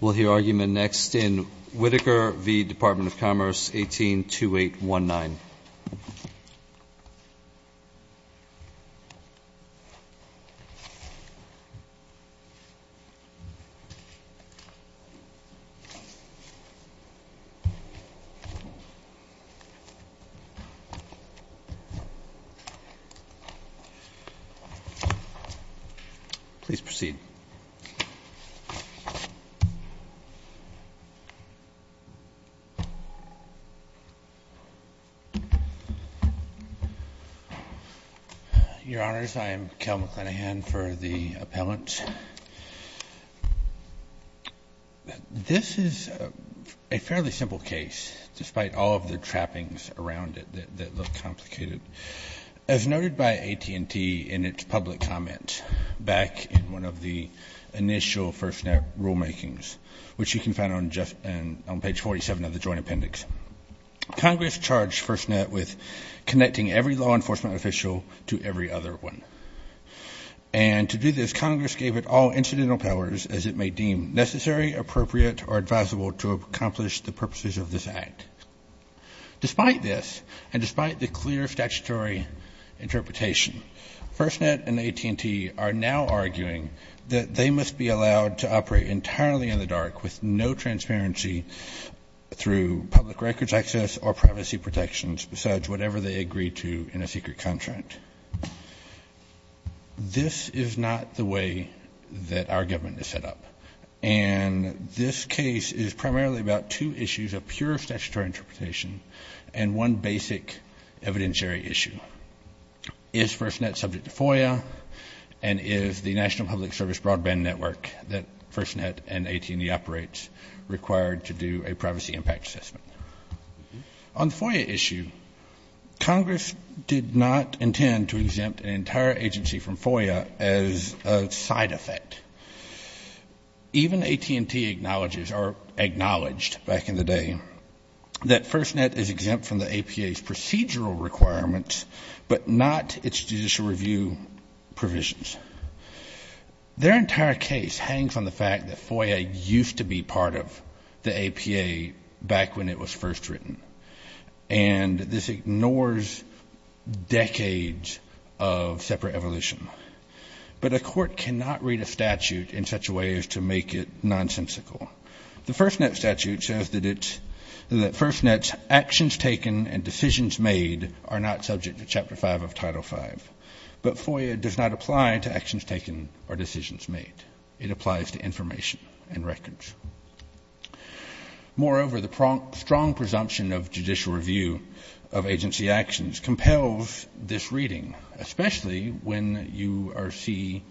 We'll hear argument next in Whitaker v. Department of Commerce 18-2819 Please proceed Your Honors, I am Kel McClanahan for the appellant. This is a fairly simple case, despite all of the trappings around it that look complicated. As noted by AT&T in its public comment back in one of the initial FirstNet rulemakings, which you can find on page 47 of the Joint Appendix, Congress charged FirstNet with connecting every law enforcement official to every other one. And to do this, Congress gave it all incidental powers as it may deem necessary, appropriate, or advisable to accomplish the purposes of this act. Despite this, and despite the clear statutory interpretation, FirstNet and AT&T are now arguing that they must be allowed to operate entirely in the dark with no transparency through public records access or privacy protections besides whatever they agree to in a secret contract. This is not the way that our government is set up. And this case is primarily about two issues of pure statutory interpretation and one basic evidentiary issue. Is FirstNet subject to FOIA and is the National Public Service Broadband Network that FirstNet and AT&T operates required to do a privacy impact assessment? On the FOIA issue, Congress did not intend to exempt an entire agency from FOIA as a side effect. Even AT&T acknowledges or acknowledged back in the day that FirstNet is exempt from the APA's procedural requirements, but not its judicial review provisions. Their entire case hangs on the fact that FOIA used to be part of the APA back when it was first written. And this ignores decades of separate evolution. But a court cannot read a statute in such a way as to make it nonsensical. The FirstNet statute says that it's, that FirstNet's actions taken and decisions made are not subject to Chapter 5 of Title 5. But FOIA does not apply to actions taken or decisions made. It applies to information and records. Moreover, the strong presumption of judicial review of agency actions compels this reading, especially when you see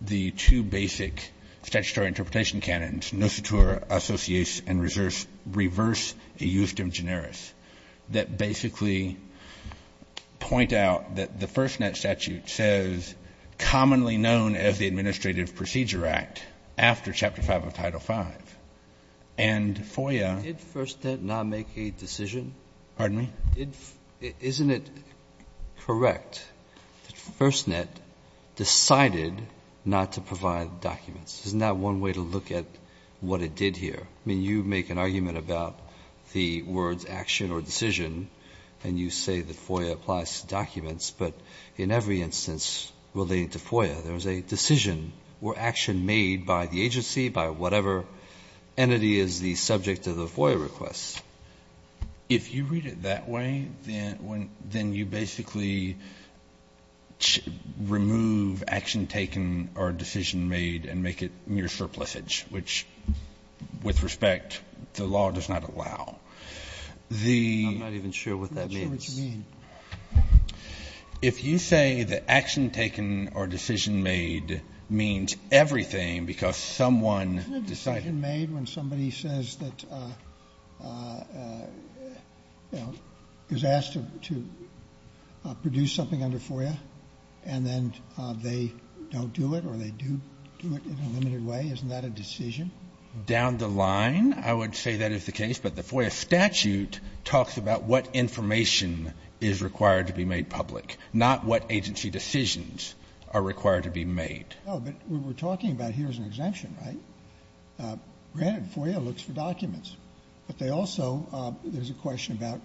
the two basic statutory interpretation canons, no situa associates and reverse eustim generis, that basically point out that the FirstNet statute says commonly known as the Administrative Procedure Act after Chapter 5 of Title 5. And FOIA Did FirstNet not make a decision? Pardon me? Isn't it correct that FirstNet decided not to provide documents? Isn't that one way to look at what it did here? I mean, you make an argument about the words action or decision, and you say that FOIA applies to documents. But in every instance relating to FOIA, there is a decision or action made by the agency, by whatever entity is the subject of the FOIA request. If you read it that way, then you basically remove action taken or decision made and make it mere surplisage, which, with respect, the law does not allow. The I'm not even sure what that means. I'm not sure what you mean. If you say that action taken or decision made means everything because someone decided Isn't it decision made when somebody says that, you know, is asked to produce something under FOIA, and then they don't do it or they do do it in a limited way? Isn't that a decision? Down the line, I would say that is the case. But the FOIA statute talks about what information is required to be made public, not what agency decisions are required to be made. Oh, but we were talking about here is an exemption, right? Granted, FOIA looks for documents, but they also there's a question about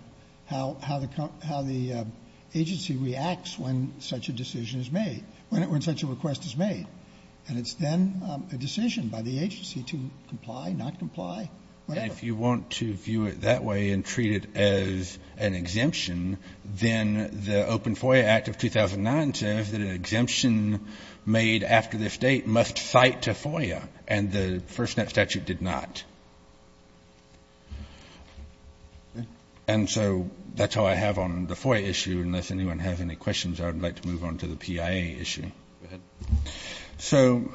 how the agency reacts when such a decision is made, when such a request is made. And it's then a decision by the agency to comply, not a decision. Then the Open FOIA Act of 2009 says that an exemption made after this date must cite to FOIA. And the FirstNet statute did not. And so that's all I have on the FOIA issue. Unless anyone has any questions, I would like to move on to the PIA issue. So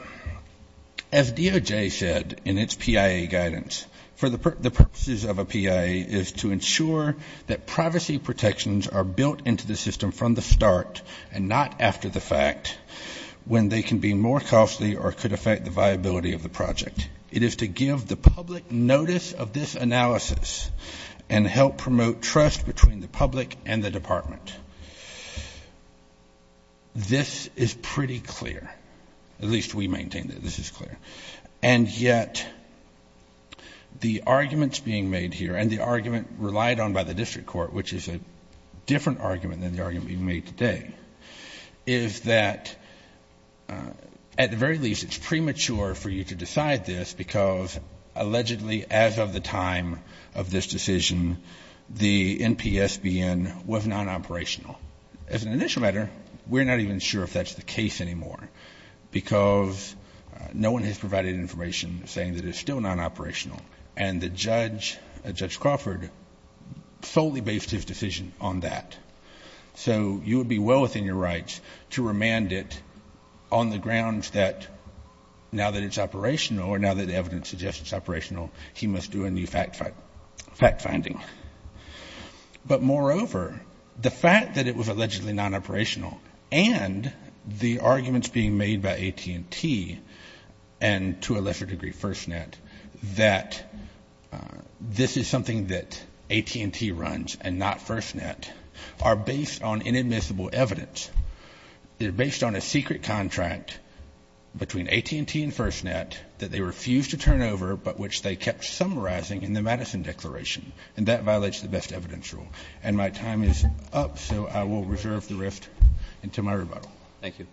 as DOJ said in its PIA guidance, for the purposes of a PIA is to ensure that privacy protections are built into the system from the start and not after the fact when they can be more costly or could affect the viability of the project. It is to give the public notice of this analysis and help promote trust between the public and the department. This is pretty clear. At least we maintain that this is clear. And yet the arguments being made here and the argument relied on by the district court, which is a different argument than the argument being made today, is that at the very least it's premature for you to decide this because allegedly as of the time of this decision, the NPSBN was non-operational. As an initial matter, we're not even sure if that's the case anymore, because no one has provided information saying that it's still non-operational. And the judge, Judge Crawford, solely based his decision on that. So you would be well within your rights to remand it on the grounds that now that it's operational or now that the evidence suggests it's operational, he must do a new fact finding. But moreover, the fact that it was allegedly non-operational and the arguments being made by AT&T and to a lesser degree FirstNet, that this is something that AT&T runs and not FirstNet, are based on inadmissible evidence. They're based on a secret contract between AT&T and FirstNet that they refused to turn over, but which they kept summarizing in the Madison Declaration. And that violates the best evidence rule. And my time is up, so I will reserve the rest until my rebuttal. Thank you.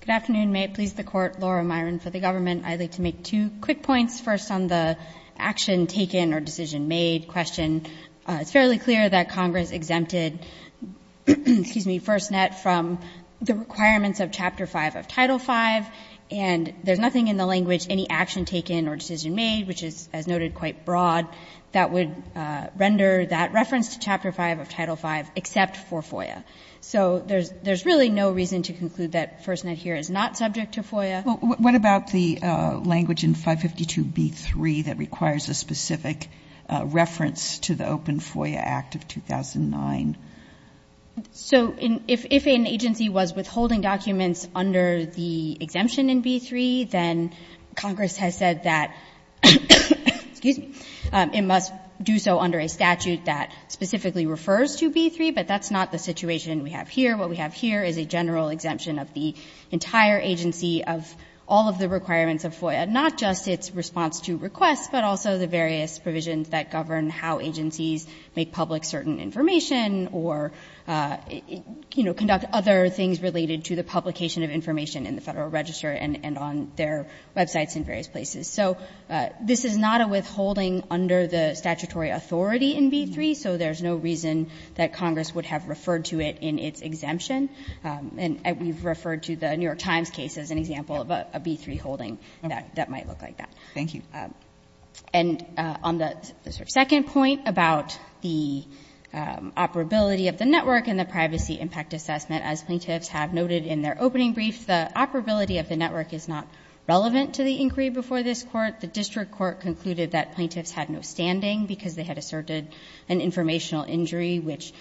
Good afternoon. May it please the Court, Laura Myron for the government. I'd like to make two quick points, first on the action taken or decision made question. It's fairly clear that Congress exempted, excuse me, FirstNet from the requirements of Chapter 5 of Title V, and there's nothing in the language, any action taken or decision made, which is, as noted, quite broad, that would render that reference to Chapter V of Title V except for FOIA. So there's really no reason to conclude that FirstNet here is not subject to FOIA. What about the language in 552b3 that requires a specific reference to the Open FOIA Act of 2009? So if an agency was withholding documents under the exemption in b3, then Congress has said that, excuse me, it must do so under a statute that specifically refers to b3, but that's not the situation we have here. What we have here is a general exemption of the entire agency of all of the requirements of FOIA, not just its response to requests, but also the various provisions that govern how agencies make public certain information or, you know, conduct other things related to the publication of information in the Federal Register and on their websites in various places. So this is not a withholding under the statutory authority in b3, so there's no reason that Congress would have referred to it in its exemption. And we've referred to the New York Times case as an example of a b3 holding that might look like that. Thank you. And on the second point about the operability of the network and the privacy impact assessment, as plaintiffs have noted in their opening brief, the operability of the network is not relevant to the inquiry before this Court. The district court concluded that plaintiffs had no standing because they had asserted an informational injury, which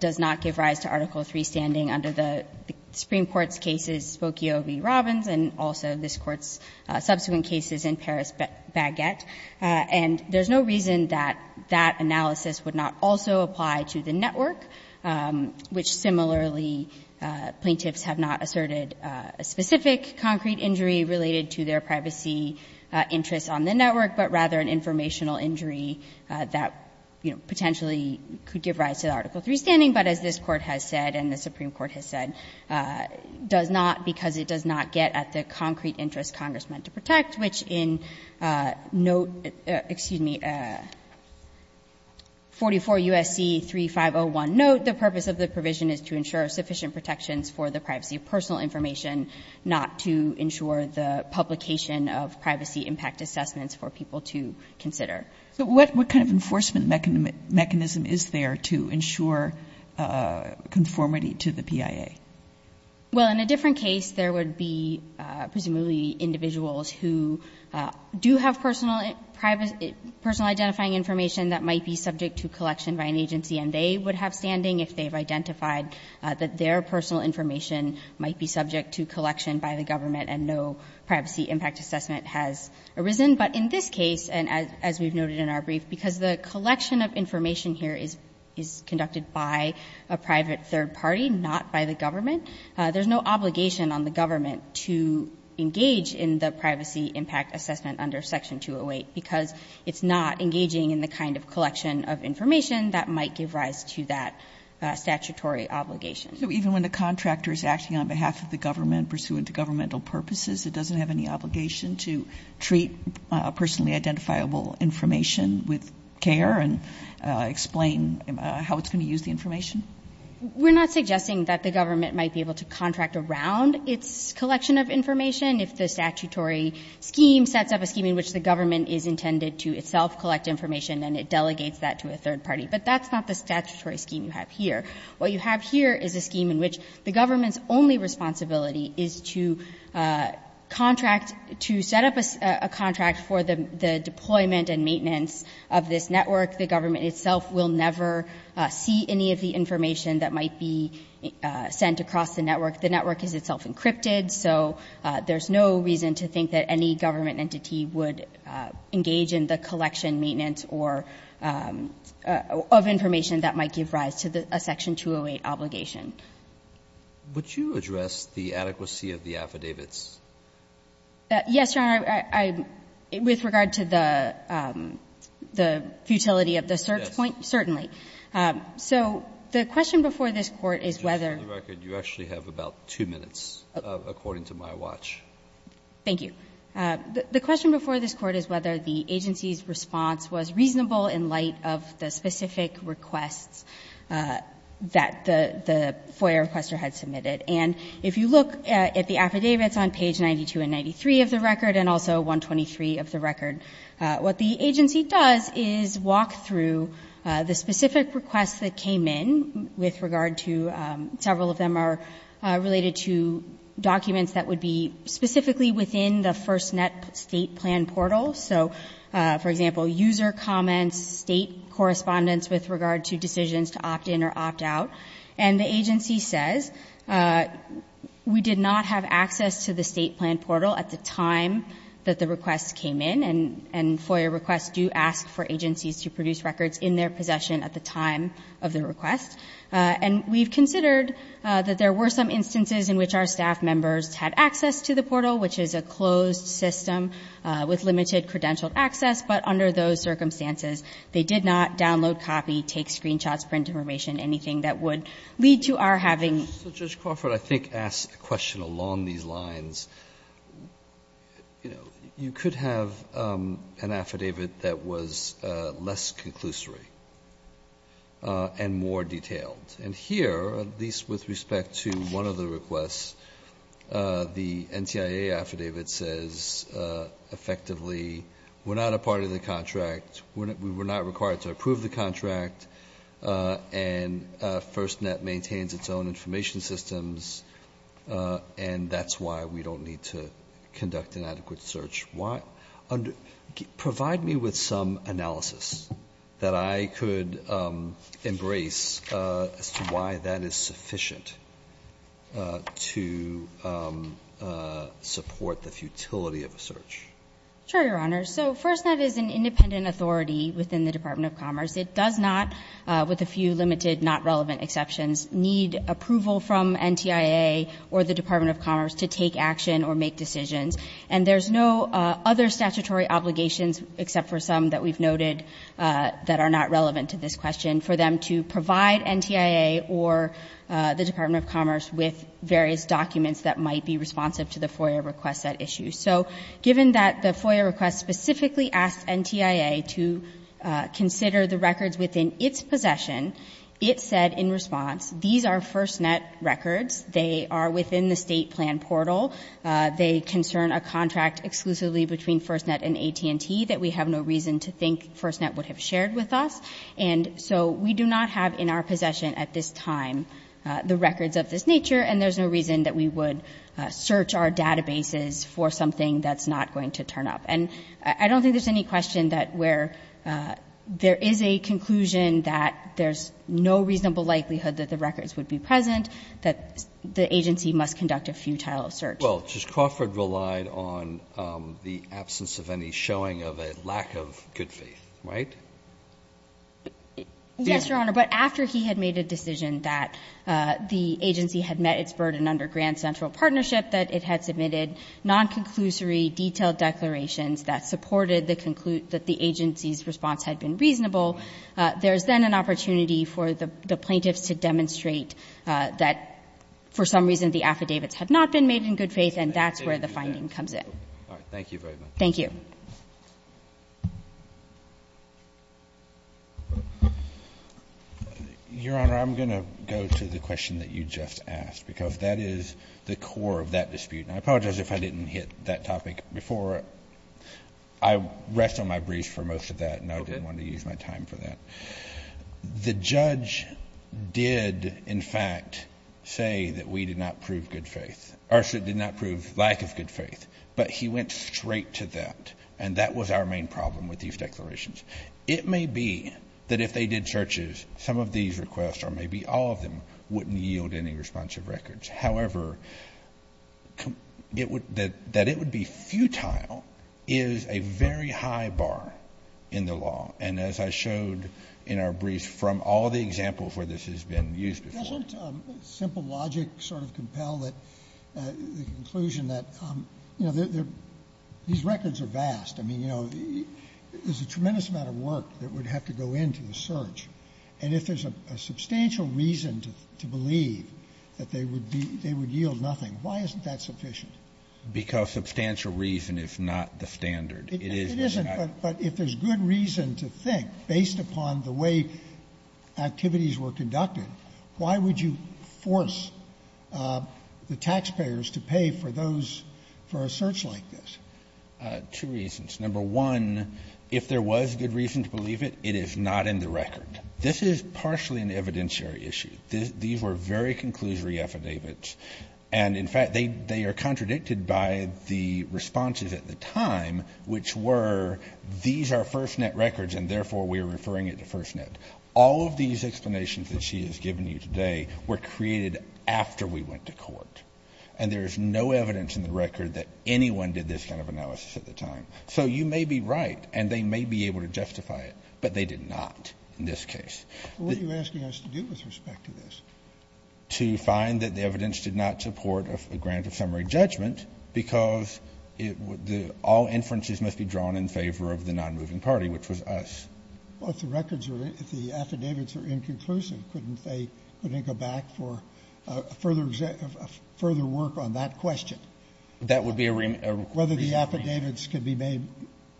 does not give rise to Article III standing under the Supreme Court's cases, Spokio v. Robbins, and also this Court's subsequent cases in Paris Baguette. And there's no reason that that analysis would not also apply to the network, which similarly plaintiffs have not asserted a specific concrete injury related to their privacy interests on the network, but rather an informational injury that, you know, potentially could give rise to the Article III standing, but as this Court has said and the Supreme Court has said, does not because it does not get at the concrete interest Congress meant to protect, which in note, excuse me, 44 U.S.C. 3501 note, the purpose of the provision is to ensure sufficient protections for the privacy of personal information, not to ensure the publication of privacy impact assessments for people to consider. So what kind of enforcement mechanism is there to ensure conformity to the PIA? Well, in a different case, there would be presumably individuals who do have personal identifying information that might be subject to collection by an agency and they would have standing if they've identified that their personal information might be subject to collection by the government and no privacy impact assessment has arisen. But in this case, and as we've noted in our brief, because the collection of information here is conducted by a private third party, not by the government, there's no obligation on the government to engage in the privacy impact assessment under Section 208 because it's not engaging in the kind of collection of information that might give rise to that statutory obligation. So even when the contractor is acting on behalf of the government pursuant to governmental purposes, it doesn't have any obligation to treat personally identifiable information with care and explain how it's going to use the information? We're not suggesting that the government might be able to contract around its collection of information if the statutory scheme sets up a scheme in which the government is intended to itself collect information and it delegates that to a third party. But that's not the statutory scheme you have here. What you have here is a scheme in which the government's only responsibility is to contract, to set up a contract for the deployment and maintenance of this network. The government itself will never see any of the information that might be sent across the network. The network is itself encrypted, so there's no reason to think that any government entity would engage in the collection, maintenance, or of information that might give rise to a Section 208 obligation. Would you address the adequacy of the affidavits? Yes, Your Honor. With regard to the futility of the search point, certainly. So the question before this Court is whether the agency's response was reasonable in light of the specific requests that the FOIA requester had submitted. And if you look at the affidavits on page 92 and 93 of the record, and also 123 of the record, what the agency does is walk through the specific requests that came in with regard to, several of them are related to documents that would be specifically within the FirstNet state plan portal. So, for example, user comments, state correspondence with regard to decisions to opt in or opt out. And the agency says, we did not have access to the state plan portal at the time that the request came in, and FOIA requests do ask for agencies to produce records in their possession at the time of the request. And we've considered that there were some instances in which our staff members had access to the portal, which is a closed system with limited credentialed access, but under those circumstances, they did not download a copy, take screenshots, print information, anything that would lead to our having So, Judge Crawford, I think asks a question along these lines. You know, you could have an affidavit that was less conclusory and more detailed. And here, at least with respect to one of the requests, the NTIA affidavit says, effectively, we're not a part of the contract, we're not required to approve the contract, and FirstNet maintains its own information systems, and that's why we don't need to conduct an adequate search. Why? Provide me with some analysis that I could embrace as to why that is sufficient to support the futility of a search. Sure, Your Honor. So FirstNet is an independent authority within the Department of Commerce. It does not, with a few limited, not relevant exceptions, need approval from NTIA or the Department of Commerce to take action or make decisions. And there's no other statutory obligations, except for some that we've noted that are not relevant to this question, for them to provide NTIA or the Department of Commerce with various documents that might be responsive to the FOIA request at issue. So given that the FOIA request specifically asked NTIA to consider the records within its possession, it said in response, these are FirstNet records, they are within the State plan portal, they concern a contract exclusively between FirstNet and AT&T that we have no reason to think FirstNet would have shared with us, and so we do not have in our possession at this time the records of this nature, and there's no reason that we would search our databases for something that's not going to turn up. And I don't think there's any question that where there is a conclusion that there's no reasonable likelihood that the records would be present, that the agency must conduct a futile search. Well, just Crawford relied on the absence of any showing of a lack of good faith, right? Yes, Your Honor. But after he had made a decision that the agency had met its burden under Grand Central Partnership, that it had submitted non-conclusory detailed declarations that supported the conclude that the agency's response had been reasonable, there is then an opportunity for the plaintiffs to demonstrate that for some reason the affidavits had not been made in good faith, and that's where the finding comes in. All right. Thank you very much. Thank you. Your Honor, I'm going to go to the question that you just asked, because that is the core of that dispute, and I apologize if I didn't hit that topic before. I rest on my briefs for most of that, and I didn't want to use my time for that. The judge did, in fact, say that we did not prove good faith. But he went straight to that, and that was our main problem with these declarations. It may be that if they did searches, some of these requests, or maybe all of them, wouldn't yield any responsive records. However, that it would be futile is a very high bar in the law. And as I showed in our briefs from all the examples where this has been used before. Doesn't simple logic sort of compel the conclusion that, you know, these records are vast. I mean, you know, there's a tremendous amount of work that would have to go into the search. And if there's a substantial reason to believe that they would yield nothing, why isn't that sufficient? Because substantial reason is not the standard. It is. It isn't. But if there's good reason to think, based upon the way activities were conducted, why would you force the taxpayers to pay for those, for a search like this? Two reasons. Number one, if there was good reason to believe it, it is not in the record. This is partially an evidentiary issue. These were very conclusory affidavits. And, in fact, they are contradicted by the responses at the time, which were, these are FirstNet records, and therefore we are referring it to FirstNet. All of these explanations that she has given you today were created after we went to court. And there's no evidence in the record that anyone did this kind of analysis at the time. So you may be right, and they may be able to justify it, but they did not in this case. Scalia. Well, what are you asking us to do with respect to this? Kennedy. To find that the evidence did not support a grant of summary judgment, because all inferences must be drawn in favor of the nonmoving party, which was us. Well, if the records are, if the affidavits are inconclusive, couldn't they, couldn't they go back for further work on that question? That would be a remand. Whether the affidavits could be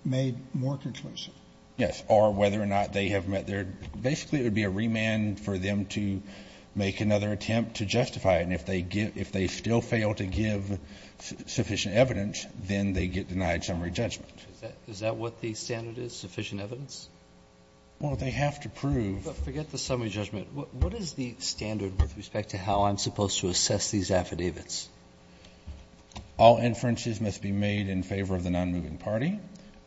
made more conclusive. Yes, or whether or not they have met their, basically it would be a remand for them to make another attempt to justify it, and if they still fail to give sufficient evidence, then they get denied summary judgment. Is that what the standard is, sufficient evidence? Well, they have to prove. But forget the summary judgment. What is the standard with respect to how I'm supposed to assess these affidavits? All inferences must be made in favor of the nonmoving party.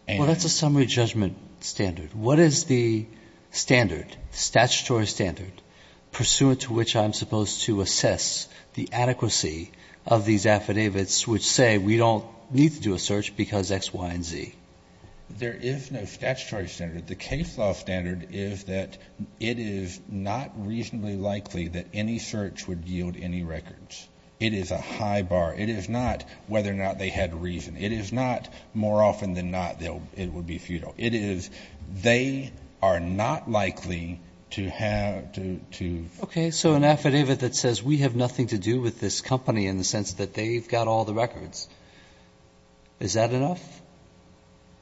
Well, that's a summary judgment standard. What is the standard, statutory standard, pursuant to which I'm supposed to assess the adequacy of these affidavits which say we don't need to do a search because X, Y, and Z? There is no statutory standard. The case law standard is that it is not reasonably likely that any search would yield any records. It is a high bar. It is not whether or not they had reason. It is not more often than not it would be futile. It is they are not likely to have to. Okay, so an affidavit that says we have nothing to do with this company in the sense that they've got all the records. Is that enough?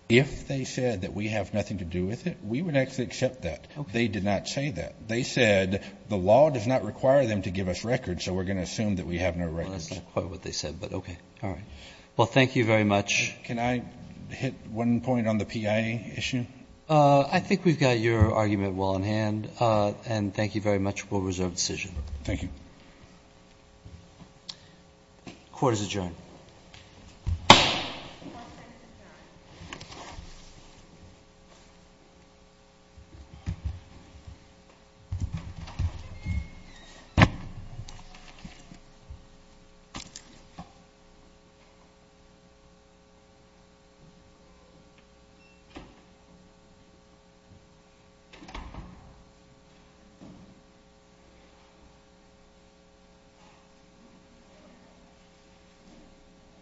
If they said that we have nothing to do with it, we would actually accept that. They did not say that. They said the law does not require them to give us records, so we're going to assume that we have no records. Well, that's not quite what they said, but okay. All right. Well, thank you very much. Can I hit one point on the PIA issue? I think we've got your argument well in hand, and thank you very much. We'll reserve decision. Thank you. Court is adjourned. One minute to start.